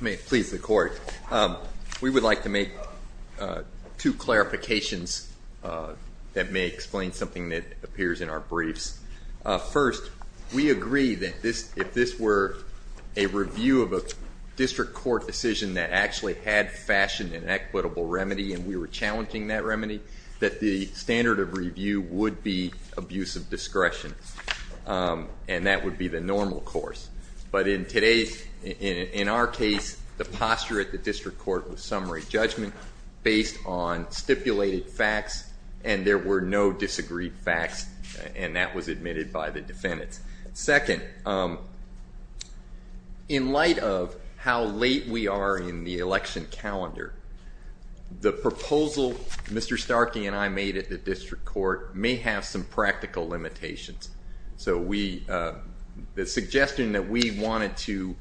Please, the court. We would like to make two clarifications that may explain something that appears in our briefs. First, we agree that if this were a review of a district court decision that actually had fashion and equitable remedy, and we were challenging that remedy, that the standard of review would be abuse of discretion. And that would be the normal course. But in our case, the posture at the district court was summary judgment based on stipulated facts. And there were no disagreed facts. And that was admitted by the defendants. Second, in light of how late we are in the election calendar, the proposal Mr. Starkey and I made at the district court may have some practical limitations. So the suggestion that we wanted to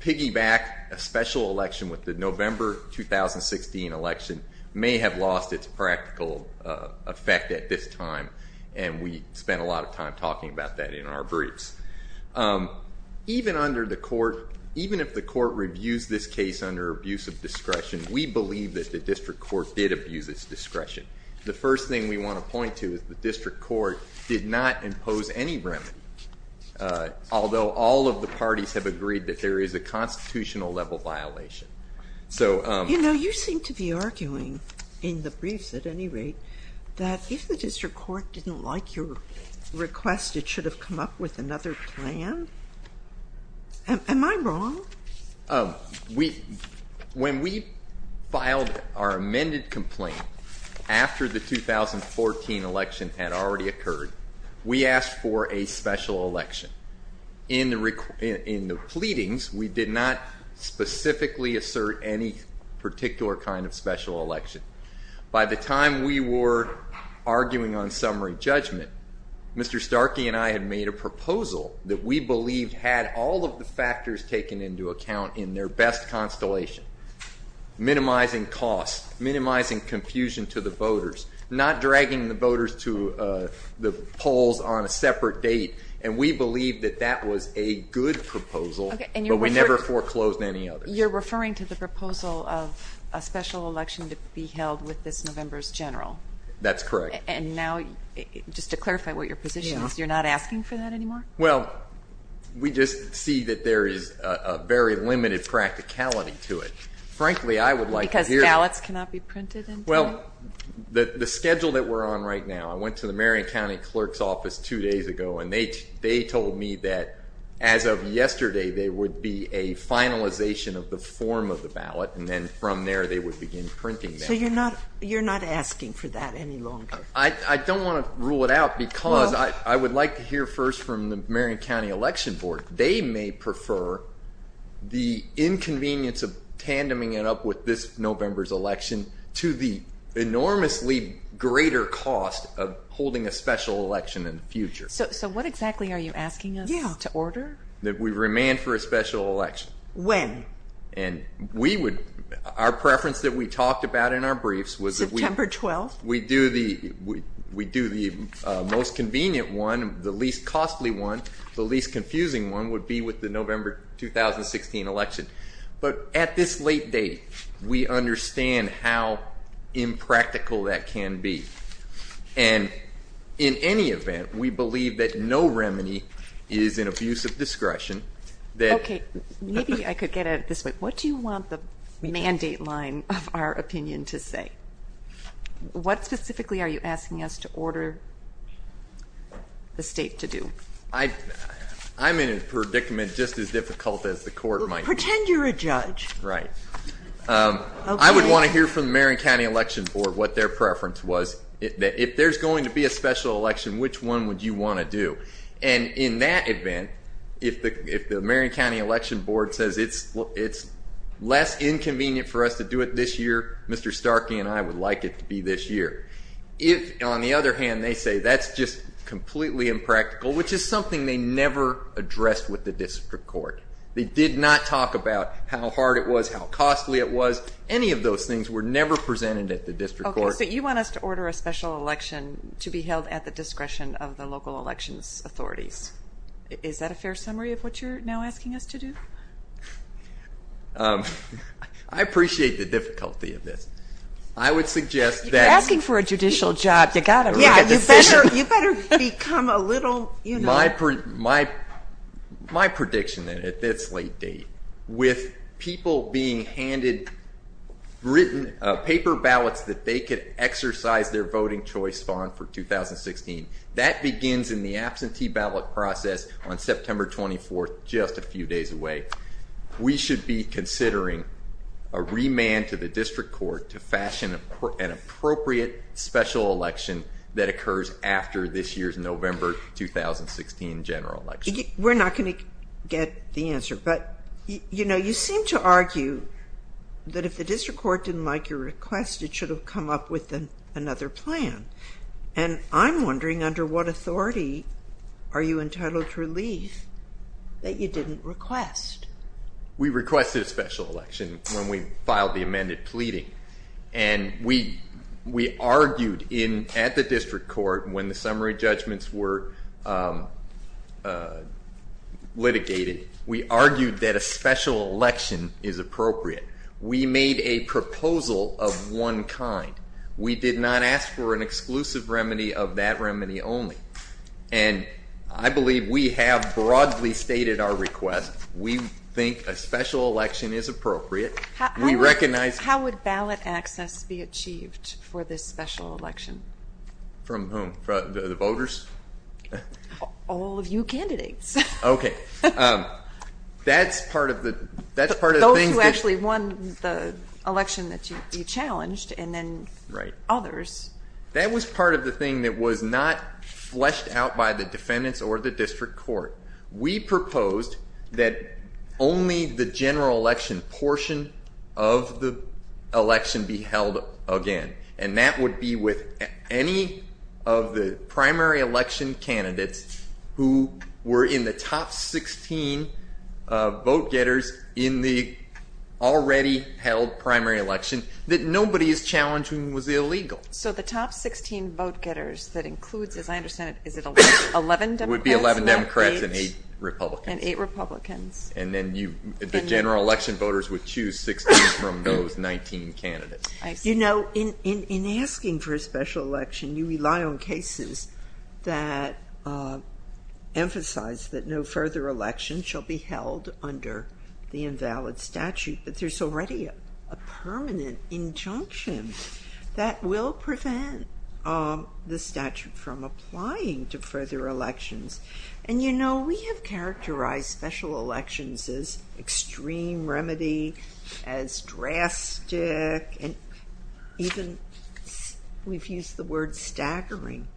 piggyback a special election with the November 2016 election may have lost its practical effect at this time. And we spent a lot of time talking about that in our briefs. Even if the court reviews this case under abuse of discretion, we believe that the district court did abuse its discretion. The first thing we want to point to is the district court did not impose any remedy, although all of the parties have agreed that there is a constitutional level violation. You seem to be arguing, in the briefs at any rate, that if the district court didn't like your request, it should have come up with another plan. Am I wrong? When we filed our amended complaint after the 2014 election had already occurred, we asked for a special election. In the pleadings, we did not specifically assert any particular kind of special election. By the time we were arguing on summary judgment, Mr. Starkey and I had made a proposal that we believed had all of the factors taken into account in their best constellation, minimizing costs, minimizing confusion to the voters, not dragging the voters to the polls on a separate date. And we believe that that was a good proposal, but we never foreclosed any other. You're referring to the proposal of a special election to be held with this November's general? That's correct. And now, just to clarify what your position is, you're not asking for that anymore? Well, we just see that there is a very limited practicality to it. Frankly, I would like to hear it. Because ballots cannot be printed into it? Well, the schedule that we're on right now, I went to the Marion County Clerk's office two days ago, and they told me that as of yesterday, there would be a finalization of the form of the ballot. And then from there, they would begin printing that. So you're not asking for that any longer? I don't want to rule it out, because I think the Marion County Election Board, they may prefer the inconvenience of tandeming it up with this November's election to the enormously greater cost of holding a special election in the future. So what exactly are you asking us to order? That we remand for a special election. When? And our preference that we talked about in our briefs was that we do the most convenient one, the least costly one, the least confusing one, would be with the November 2016 election. But at this late date, we understand how impractical that can be. And in any event, we believe that no remedy is an abuse of discretion. OK, maybe I could get at it this way. What do you want the mandate line of our opinion to say? What specifically are you asking us to order the state to do? I'm in a predicament just as difficult as the court might be. Pretend you're a judge. Right. I would want to hear from the Marion County Election Board what their preference was. If there's going to be a special election, which one would you want to do? And in that event, if the Marion County Election Board says it's less inconvenient for us to do it this year, Mr. Starkey and I would like it to be this year. If, on the other hand, they say that's just completely impractical, which is something they never addressed with the district court. They did not talk about how hard it was, how costly it was. Any of those things were never presented at the district court. OK, so you want us to order a special election to be held at the discretion of the local elections authorities. Is that a fair summary of what you're now asking us to do? I appreciate the difficulty of this. I would suggest that. You're asking for a judicial job. You've got to make a decision. You better become a little, you know. My prediction, then, at this late date, with people being handed written paper ballots that they could exercise their voting choice bond for 2016, that begins in the absentee ballot process on September 24, just a few days away. We should be considering a remand to the district court to fashion an appropriate special election that occurs after this year's November 2016 general election. We're not going to get the answer. But you seem to argue that if the district court didn't like your request, it should have come up with another plan. And I'm wondering, under what authority are you entitled to relief that you didn't request? We requested a special election when we filed the amended pleading. And we argued at the district court when the summary judgments were litigated, we argued that a special election is appropriate. We made a proposal of one kind. We did not ask for an exclusive remedy of that remedy only. And I believe we have broadly stated our request. We think a special election is appropriate. We recognize it. How would ballot access be achieved for this special election? From whom? From the voters? All of you candidates. OK. That's part of the thing. Those who actually won the election that you challenged, and then others. That was part of the thing that was not fleshed out by the defendants or the district court. We proposed that only the general election portion of the election be held again. And that would be with any of the primary election candidates who were in the top 16 vote getters in the already held primary election that nobody is challenging was illegal. So the top 16 vote getters that includes, as I understand it, is it 11 Democrats? It would be 11 Democrats and 8 Republicans. And then the general election voters would choose 16 from those 19 candidates. You know, in asking for a special election, you rely on cases that emphasize that no further election shall be held under the invalid statute. But there's already a permanent injunction that will prevent the statute from applying to further elections. And you know, we have characterized special elections as extreme remedy, as drastic, and even we've used the word staggering.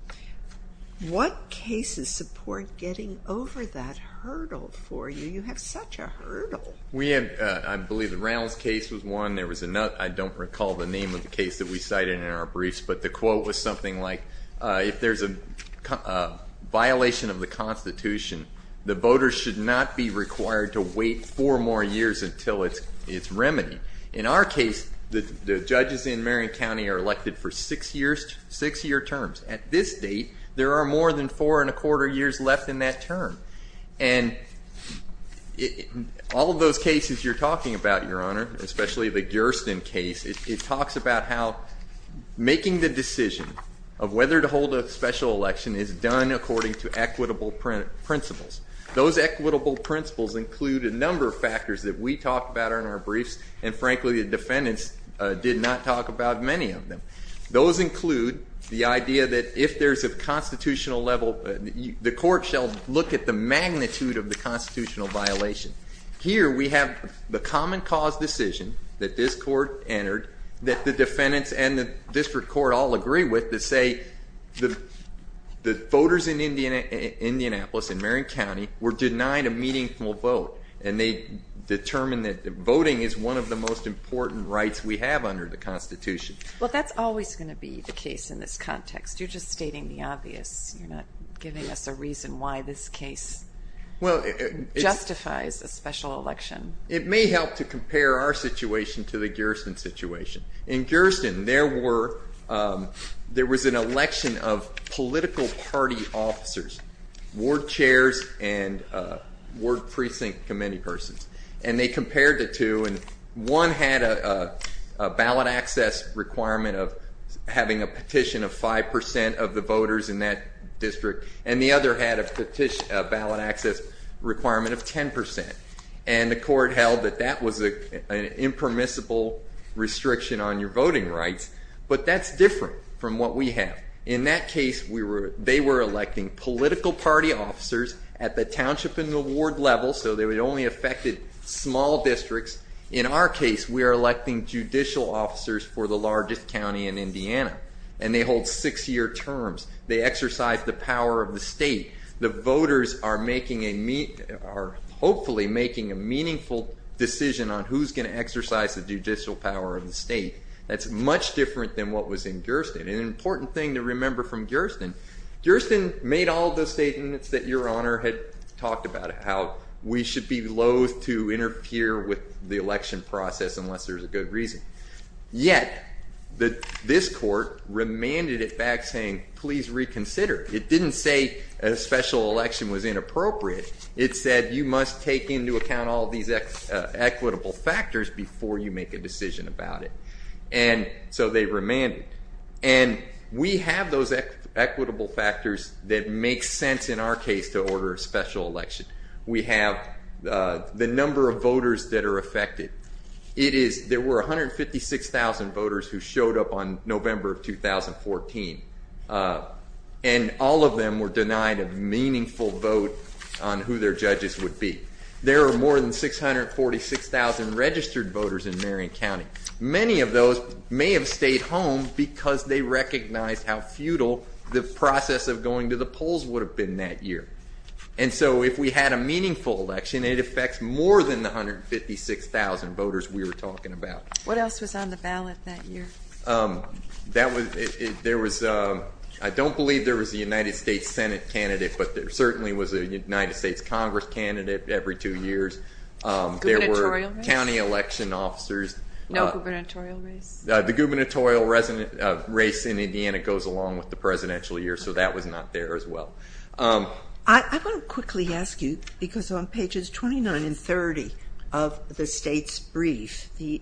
What cases support getting over that hurdle for you? You have such a hurdle. We had, I believe, the Rounds case was one. There was another, I don't recall the name of the case that we cited in our briefs, but the quote was something like, if there's a violation of the Constitution, the voters should not be required to wait four more years until it's remedied. In our case, the judges in Marion County are elected for six-year terms. At this date, there are more than 4 and 1 quarter years left in that term. And all of those cases you're talking about, Your Honor, especially the Gersten case, it talks about how making the decision of whether to hold a special election is done according to equitable principles. Those equitable principles include a number of factors that we talk about in our briefs. And frankly, the defendants did not talk about many of them. Those include the idea that if there's a constitutional level, the court shall look at the magnitude of the constitutional violation. Here, we have the common cause decision that this court entered that the defendants and the district court all agree with that say the voters in Indianapolis, in Marion County, were denied a meaningful vote. And they determined that voting is one of the most important rights we have under the Constitution. Well, that's always going to be the case in this context. You're just stating the obvious. You're not giving us a reason why this case justifies a special election. It may help to compare our situation to the Gersten situation. In Gersten, there was an election of political party officers, ward chairs and ward precinct committee persons. And they compared the two. And one had a ballot access requirement of having a petition of 5% of the voters in that district. And the other had a ballot access requirement of 10%. And the court held that that was an impermissible restriction on your voting rights. But that's different from what we have. In that case, they were electing political party officers at the township and the ward level. So they would only affect small districts. In our case, we are electing judicial officers for the largest county in Indiana. And they hold six-year terms. They exercise the power of the state. The voters are hopefully making a meaningful decision on who's going to exercise the judicial power of the state. That's much different than what was in Gersten. And an important thing to remember from Gersten, Gersten made all those statements that Your Honor had talked about, how we should be loathe to interfere with the election process unless there's a good reason. Yet, this court remanded it back saying, please reconsider. It didn't say a special election was inappropriate. It said, you must take into account all these equitable factors before you make a decision about it. And so they remanded. And we have those equitable factors that make sense in our case to order a special election. We have the number of voters that are affected. There were 156,000 voters who showed up on November of 2014. And all of them were denied a meaningful vote on who their judges would be. There are more than 646,000 registered voters in Marion County. Many of those may have stayed home because they recognized how futile the process of going to the polls would have been that year. And so if we had a meaningful election, it affects more than the 156,000 voters we were talking about. What else was on the ballot that year? That was, there was, I don't believe there was a United States Senate candidate, but there certainly was a United States Congress candidate every two years. There were county election officers. No gubernatorial race? The gubernatorial race in Indiana goes along with the presidential year, so that was not there as well. I want to quickly ask you, because on pages 29 and 30 of the state's brief, the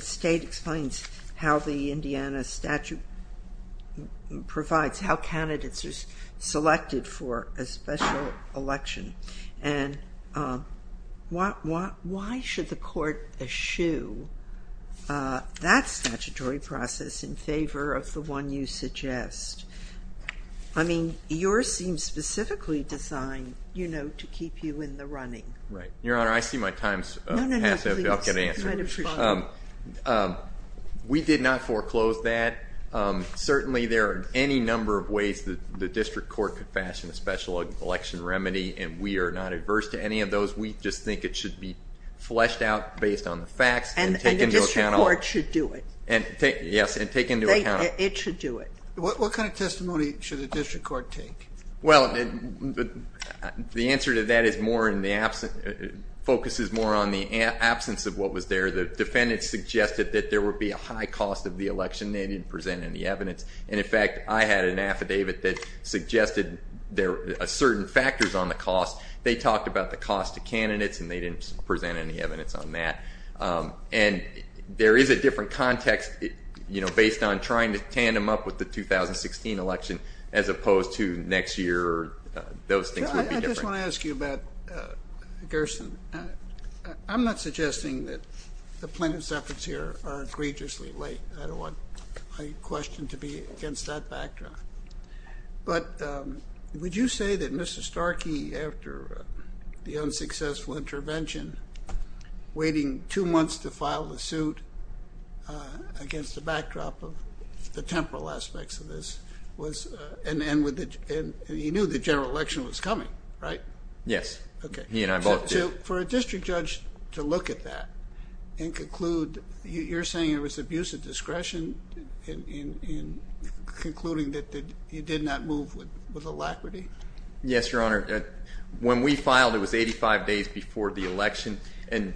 state explains how the Indiana statute provides how candidates are selected for a special election. And why should the court eschew that statutory process in favor of the one you suggest? I mean, yours seems specifically designed to keep you in the running. Right. Your Honor, I see my time's half up. No, no, no, please, try to respond. We did not foreclose that. Certainly, there are any number of ways that the district court could fashion a special election remedy, and we are not adverse to any of those. We just think it should be fleshed out based on the facts and taken into account. And the district court should do it. Yes, and taken into account. It should do it. What kind of testimony should the district court take? Well, the answer to that focuses more on the absence of what was there. The defendants suggested that there would be a high cost of the election. They didn't present any evidence. And in fact, I had an affidavit that suggested there are certain factors on the cost. They talked about the cost to candidates, and they didn't present any evidence on that. And there is a different context based on trying to tandem up with the 2016 election, as opposed to next year, those things would be different. I just want to ask you about Gerson. I'm not suggesting that the plaintiff's efforts here are egregiously late. I don't want my question to be against that backdrop. But would you say that Mr. Starkey, after the unsuccessful intervention, waiting two months to file the suit against the backdrop of the temporal aspects of this, and he knew the general election was coming, right? Yes. He and I both did. For a district judge to look at that and conclude, you're saying it was abuse of discretion in concluding that he did not move with alacrity? Yes, Your Honor. When we filed, it was 85 days before the election. And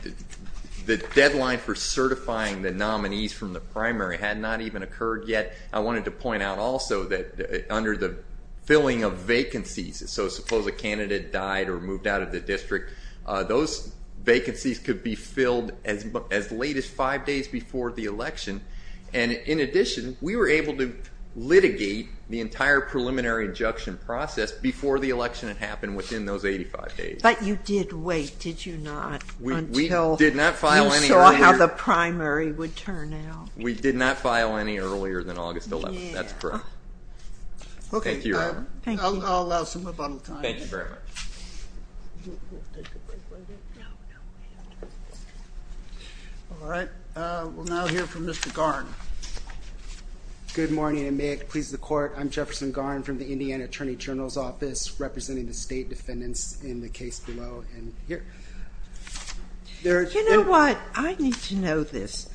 the deadline for certifying the nominees from the primary had not even occurred yet. I wanted to point out also that under the filling of vacancies, so suppose a candidate died or moved out of the district, those vacancies could be filled as late as five days before the election. And in addition, we were able to litigate the entire preliminary injunction process before the election had happened within those 85 days. But you did wait, did you not, until you saw how the primary would turn out? We did not file any earlier than August 11th. That's correct. Thank you, Your Honor. I'll allow some rebuttal time. Thank you very much. All right. We'll now hear from Mr. Garn. Good morning, and may it please the court, I'm Jefferson Garn from the Indiana Attorney General's in the case below and here. You know what? I need to know this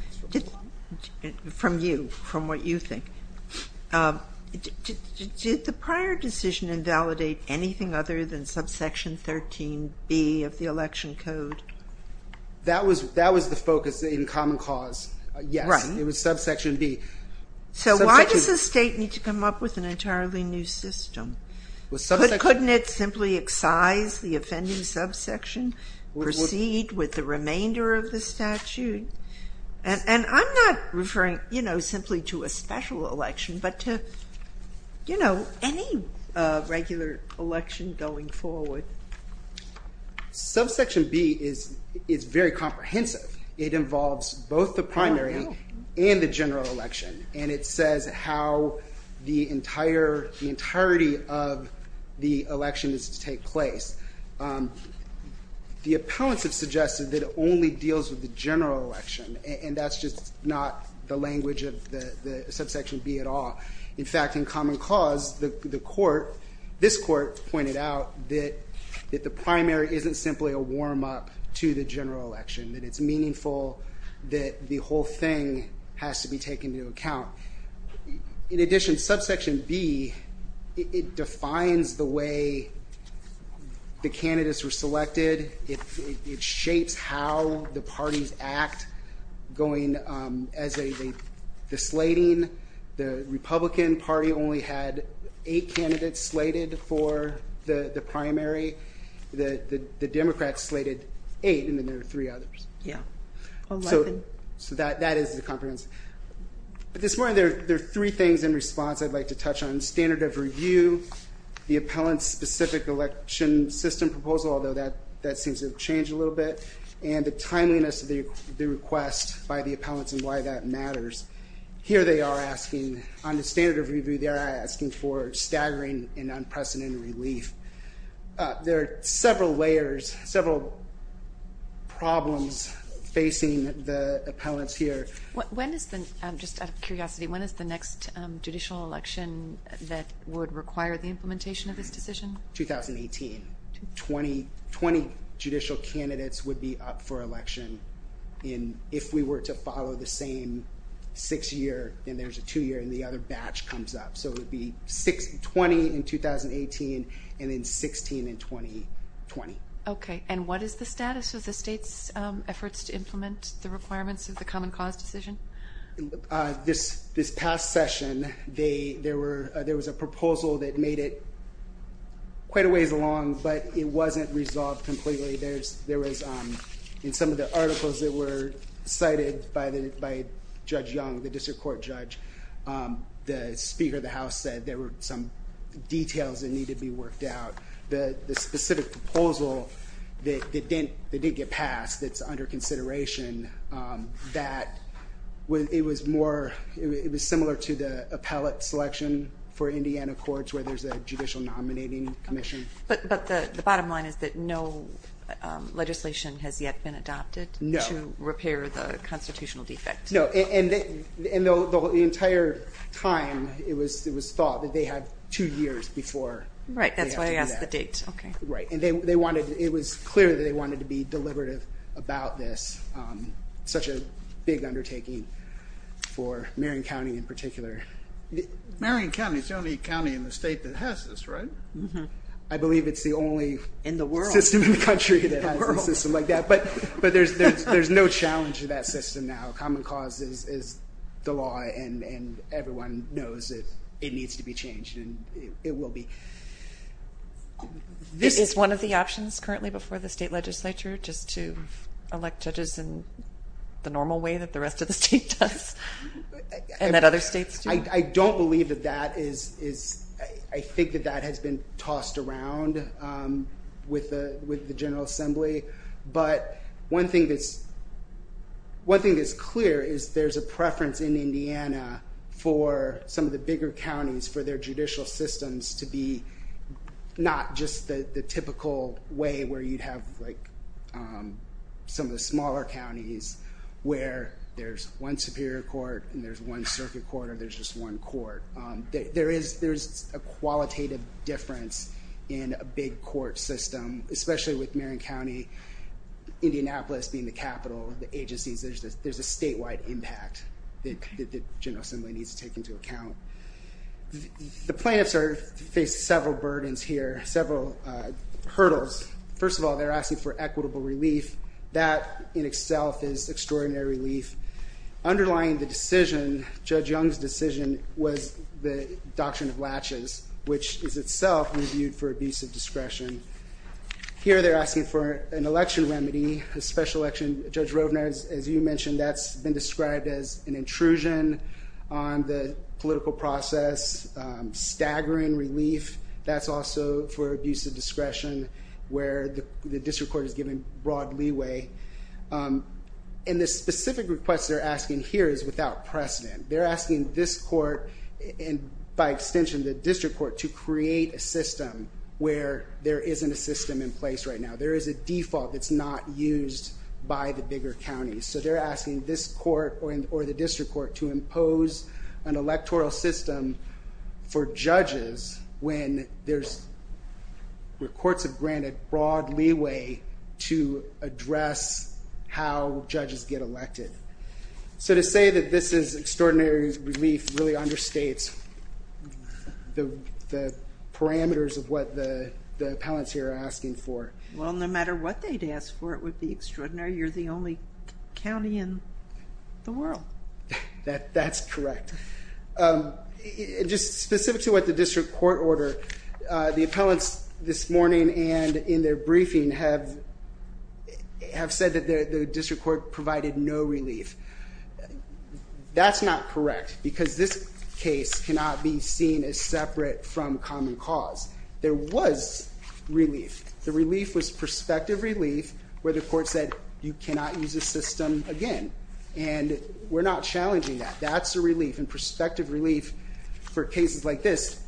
from you, from what you think. Did the prior decision invalidate anything other than subsection 13b of the election code? That was the focus in common cause, yes. It was subsection b. So why does the state need to come up with an entirely new system? Couldn't it simply excise the offending subsection, proceed with the remainder of the statute? And I'm not referring simply to a special election, but to any regular election going forward. Subsection b is very comprehensive. It involves both the primary and the general election. And it says how the entirety of the election is to take place. The appellants have suggested that it only deals with the general election. And that's just not the language of the subsection b at all. In fact, in common cause, this court pointed out that the primary isn't simply a warm up to the general election. That it's meaningful that the whole thing has to be taken into account. In addition, subsection b, it defines the way the candidates were selected. It shapes how the parties act going as the slating. The Republican Party only had eight candidates slated for the primary. The Democrats slated eight, and then there were three others. Yeah, 11. So that is the comprehensive. This morning, there are three things in response I'd like to touch on. Standard of review, the appellant-specific election system proposal, although that seems to have changed a little bit, and the timeliness of the request by the appellants and why that matters. Here they are asking, on the standard of review, they're asking for staggering and unprecedented relief. There are several layers, several problems facing the appellants here. Just out of curiosity, when is the next judicial election that would require the implementation of this decision? 2018. 20 judicial candidates would be up for election if we were to follow the same six-year, and there's a two-year, and the other batch comes up. So it would be 20 in 2018, and then 16 in 2020. OK, and what is the status of the state's efforts to implement the requirements of the Common Cause decision? This past session, there was a proposal that made it quite a ways along, but it wasn't resolved completely. In some of the articles that were cited by Judge Young, the district court judge, the Speaker of the House said there were some details that needed to be worked out. The specific proposal that didn't get passed, that's under consideration, that it was similar to the appellate selection for Indiana courts where there's a judicial nominating commission. But the bottom line is that no legislation has yet been adopted to repair the constitutional defect? No, and the entire time, it was thought that they had two years before they had to do that. Right, that's why I asked the date. Right, and it was clear that they thought about this, such a big undertaking for Marion County in particular. Marion County is the only county in the state that has this, right? I believe it's the only system in the country that has a system like that. But there's no challenge to that system now. Common Cause is the law, and everyone knows that it needs to be changed, and it will be. This is one of the options currently before the state legislature, just to elect judges in the normal way that the rest of the state does, and that other states do. I don't believe that that is, I think that that has been tossed around with the General Assembly. But one thing that's clear is there's a preference in Indiana for some of the bigger counties for their judicial systems to be not just the typical way where you'd have some of the smaller counties where there's one superior court, and there's one circuit court, or there's just one court. There's a qualitative difference in a big court system, especially with Marion County, Indianapolis being the capital, the agencies. There's a statewide impact that the General Assembly needs to take into account. The plaintiffs have faced several burdens here, several hurdles. First of all, they're asking for equitable relief. That, in itself, is extraordinary relief. Underlying the decision, Judge Young's decision, was the doctrine of latches, which is itself reviewed for abuse of discretion. Here they're asking for an election remedy, a special election. Judge Rovner, as you mentioned, that's been described as an intrusion on the political process. Staggering relief, that's also for abuse of discretion, where the district court is given broad leeway. And the specific request they're asking here is without precedent. They're asking this court, and by extension, the district court, to create a system where there isn't a system in place right now. There is a default that's not used by the bigger counties. So they're asking this court, or the district court, to impose an electoral system for judges when courts have granted broad leeway to address how judges get elected. So to say that this is extraordinary relief really understates the parameters of what the appellants here are asking for. Well, no matter what they'd ask for, it would be extraordinary. You're the only county in the world. That's correct. Just specific to what the district court ordered, the appellants this morning and in their briefing have said that the district court provided no relief. That's not correct, because this case cannot be seen as separate from common cause. There was relief. The relief was prospective relief, where the court said, you cannot use this system again. And we're not challenging that. That's a relief. And prospective relief, for cases like this,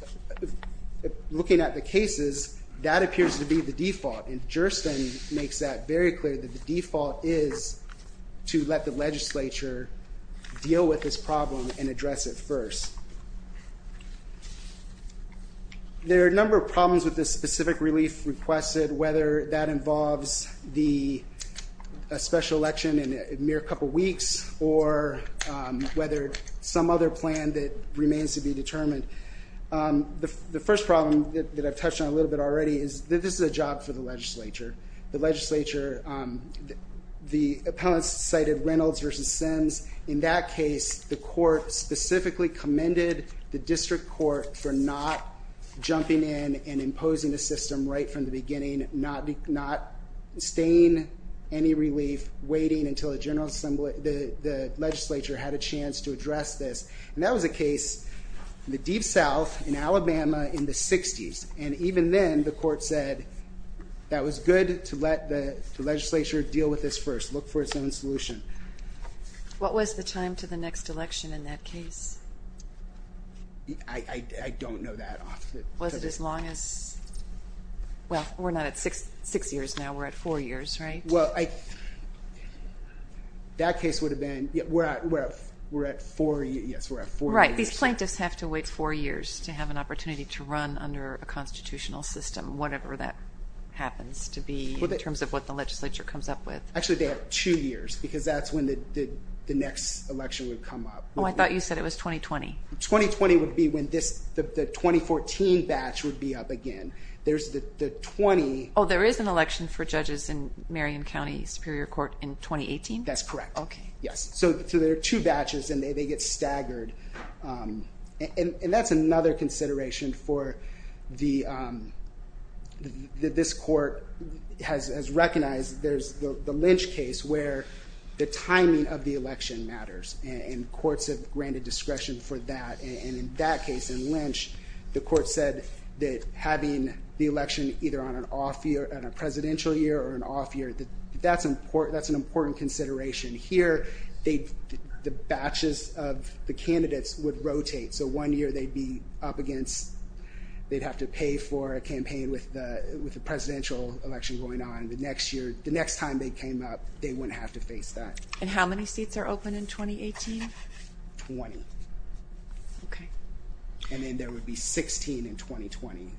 looking at the cases, that appears to be the default. And Jurisdiction makes that very clear that the default is to let the legislature deal with this problem and address it first. There are a number of problems with this specific relief requested, whether that involves a special election in a mere couple weeks, or whether some other plan that remains to be determined. The first problem that I've touched on a little bit already is that this is a job for the legislature. The legislature, the appellants cited Reynolds versus Sims. In that case, the court specifically commended the district court for not jumping in and imposing the system right from the beginning, not staying any relief, waiting until the legislature had a chance to address this. And that was a case in the deep south in Alabama in the 60s. And even then, the court said, that was good to let the legislature deal with this first. Look for its own solution. What was the time to the next election in that case? I don't know that off the top of my head. Was it as long as? Well, we're not at six years now. We're at four years, right? Well, that case would have been, we're at four years. Yes, we're at four years. Right, these plaintiffs have to wait four years to have an opportunity to run under a constitutional system, whatever that happens to be in terms of what the legislature comes up with. Actually, they have two years, because that's when the next election would come up. Oh, I thought you said it was 2020. 2020 would be when the 2014 batch would be up again. There's the 20. Oh, there is an election for judges in Marion County Superior Court in 2018? That's correct, yes. So there are two batches, and they get staggered. And that's another consideration for this court has recognized there's the Lynch case, where the timing of the election matters. And courts have granted discretion for that. And in that case, in Lynch, the court said that having the election either on an off year, on a presidential year or an off year, that's an important consideration. Here, the batches of the candidates would rotate. So one year, they'd be up against, they'd have to pay for a campaign with the presidential election going on. The next year, the next time they came up, they wouldn't have to face that. And how many seats are open in 2018? 20. OK. And then there would be 16 in 2020.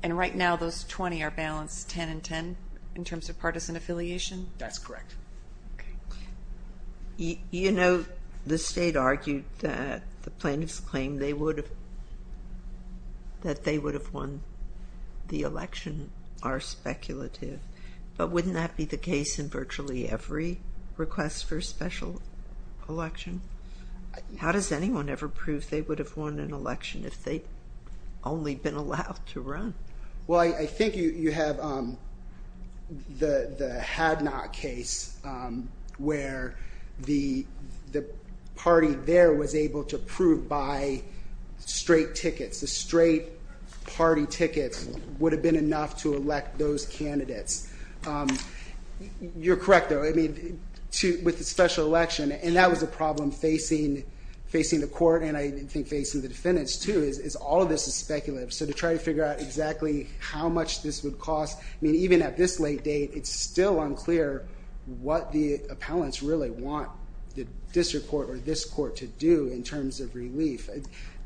And right now, those 20 are balanced 10 and 10 in terms of partisan affiliation? That's correct. You know, the state argued that the plaintiffs claimed that they would have won the election are speculative. But wouldn't that be the case in virtually every request for a special election? How does anyone ever prove they would have won an election if they'd only been allowed to run? Well, I think you have the had not case, where the party there was able to prove by straight tickets. The straight party tickets would have been enough to elect those candidates. You're correct, though. With the special election, and that was a problem facing the court and, I think, facing the defendants, too, is all of this is speculative. So to try to figure out exactly how much this would cost, I mean, even at this late date, it's still unclear what the appellants really want the district court or this court to do in terms of relief.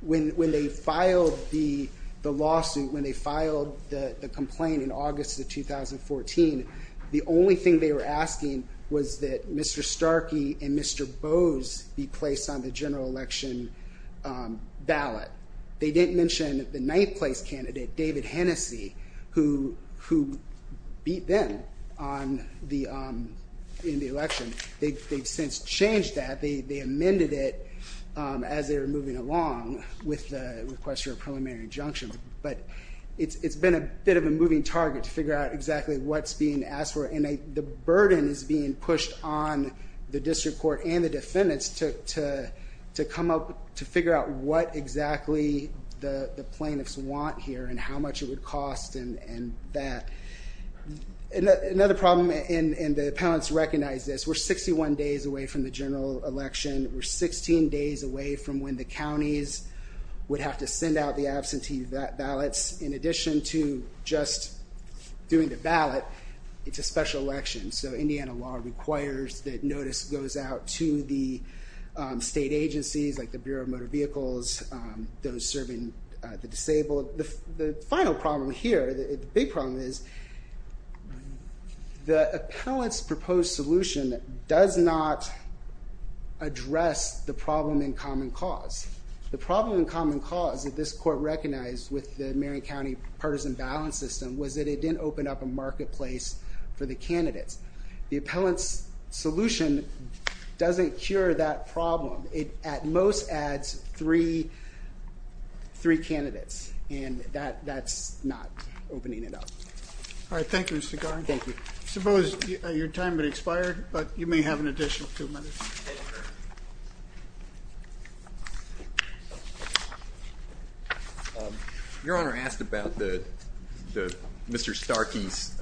When they filed the lawsuit, when they filed the complaint in August of 2014, the only thing they were asking was that Mr. Starkey and Mr. Bowes be placed on the general election ballot. They didn't mention the ninth place candidate, David Hennessey, who beat them in the election. They've since changed that. They amended it as they were moving along with the request for a preliminary injunction. But it's been a bit of a moving target to figure out exactly what's being asked for. And the burden is being pushed on the district court and the defendants to come up to figure out what exactly the plaintiffs want here and how much it would cost and that. Another problem, and the appellants recognize this, we're 61 days away from the general election. We're 16 days away from when the counties would have to send out the absentee ballots, in addition to just doing the ballot. It's a special election, so Indiana law requires that notice goes out to the state agencies, like the Bureau of Motor Vehicles, those serving the disabled. The final problem here, the big problem is the appellant's proposed solution does not address the problem in common cause. The problem in common cause that this court recognized with the Marion County Partisan Balance System was that it didn't open up a marketplace for the candidates. The appellant's solution doesn't cure that problem. It, at most, adds three candidates. And that's not opening it up. All right. Thank you, Mr. Garan. Thank you. I suppose your time had expired, but you may have an additional two minutes. Your Honor asked about Mr. Starkey's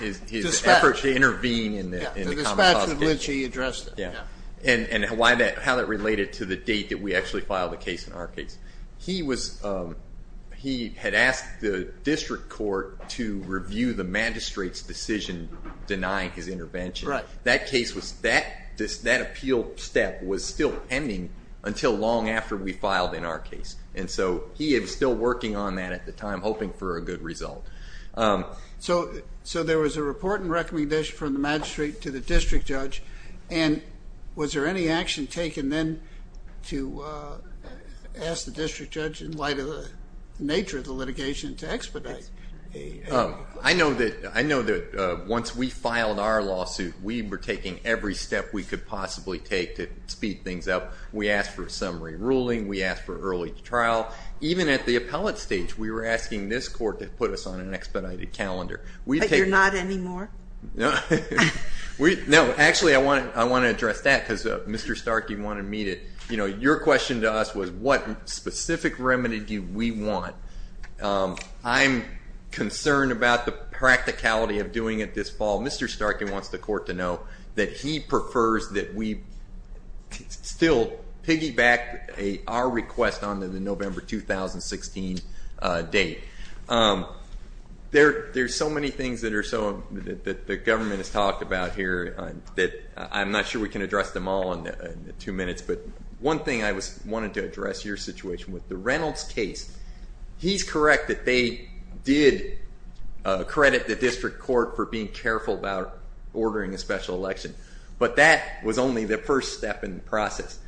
efforts to intervene in the common cause case. The dispatch that Lynch addressed. And how that related to the date that we actually filed the case in our case. He had asked the district court to review the magistrate's decision denying his intervention. That case was, that appeal step was still pending until long after we filed in our case. And so he is still working on that at the time, hoping for a good result. So there was a report and recommendation from the magistrate to the district judge. And was there any action taken then to ask the district judge, in light of the nature of the litigation, to expedite? I know that once we filed our lawsuit, we were taking every step we could possibly take to speed things up. We asked for a summary ruling. We asked for early trial. Even at the appellate stage, we were asking this court to put us on an expedited calendar. But you're not anymore? No, actually, I want to address that, because Mr. Starkey wanted to meet it. Your question to us was, what specific remedy do we want? I'm concerned about the practicality of doing it this fall. Mr. Starkey wants the court to know that he prefers that we still piggyback our request on the November 2016 date. There are so many things that the government has talked about here that I'm not sure we can address them all in two minutes. But one thing I wanted to address your situation with the Reynolds case. He's correct that they did credit the district court for being careful about ordering a special election. But that was only the first step in the process.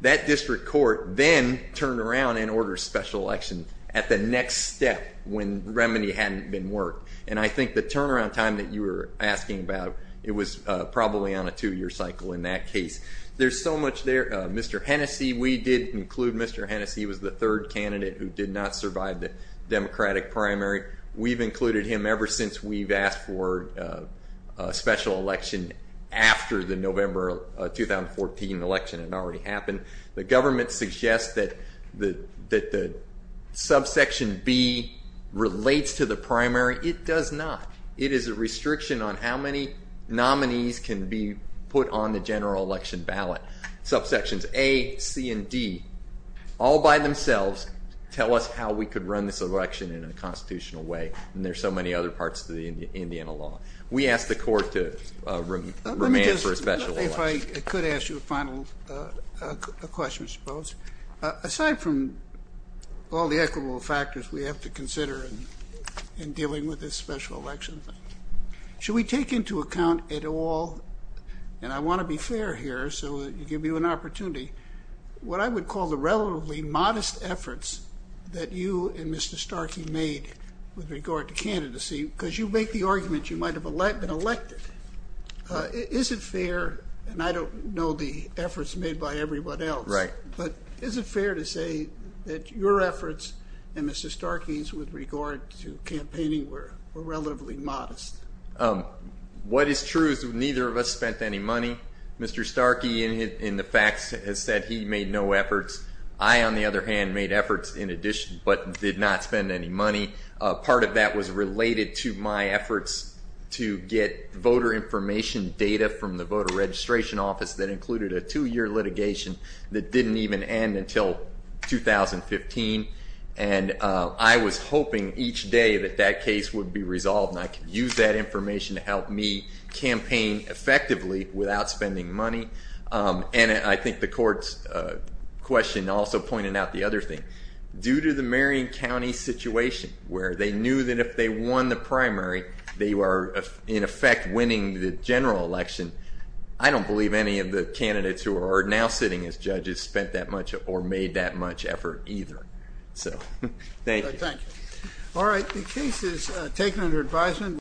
That district court then turned around and ordered special election at the next step when remedy hadn't been worked. And I think the turnaround time that you were asking about, it was probably on a two-year cycle in that case. There's so much there. Mr. Hennessey, we did include Mr. Hennessey was the third candidate who did not survive the Democratic primary. We've included him ever since we've asked for a special election after the November 2014 election had already happened. The government suggests that the subsection B relates to the primary. It does not. It is a restriction on how many nominees can be put on the general election ballot. Subsections A, C, and D all by themselves tell us how we could run this election in a constitutional way. And there's so many other parts to the Indiana law. We asked the court to remand for a special election. Let me just, if I could ask you a final question, I suppose. Aside from all the equitable factors we have to consider in dealing with this special election, should we take into account at all, and I want to be fair here so I give you an opportunity, what I would call the relatively modest efforts that you and Mr. Starkey made with regard to candidacy? Because you make the argument you might have been elected. Is it fair, and I don't know the efforts made by everyone else, but is it fair to say that your efforts and Mr. Starkey's with regard to campaigning were relatively modest? What is true is neither of us spent any money. Mr. Starkey, in the facts, has said he made no efforts. I, on the other hand, made efforts in addition, but did not spend any money. Part of that was related to my efforts to get voter information data from the Voter Registration Office that included a two-year litigation that didn't even end until 2015. And I was hoping each day that that case would be resolved, and I could use that information to help me campaign effectively without spending money. And I think the court's question also pointed out the other thing. Due to the Marion County situation, where they knew that if they won the primary, they were, in effect, winning the general election, I don't believe any of the candidates who are now sitting as judges spent that much or made that much effort either. So thank you. All right, the case is taken under advisement.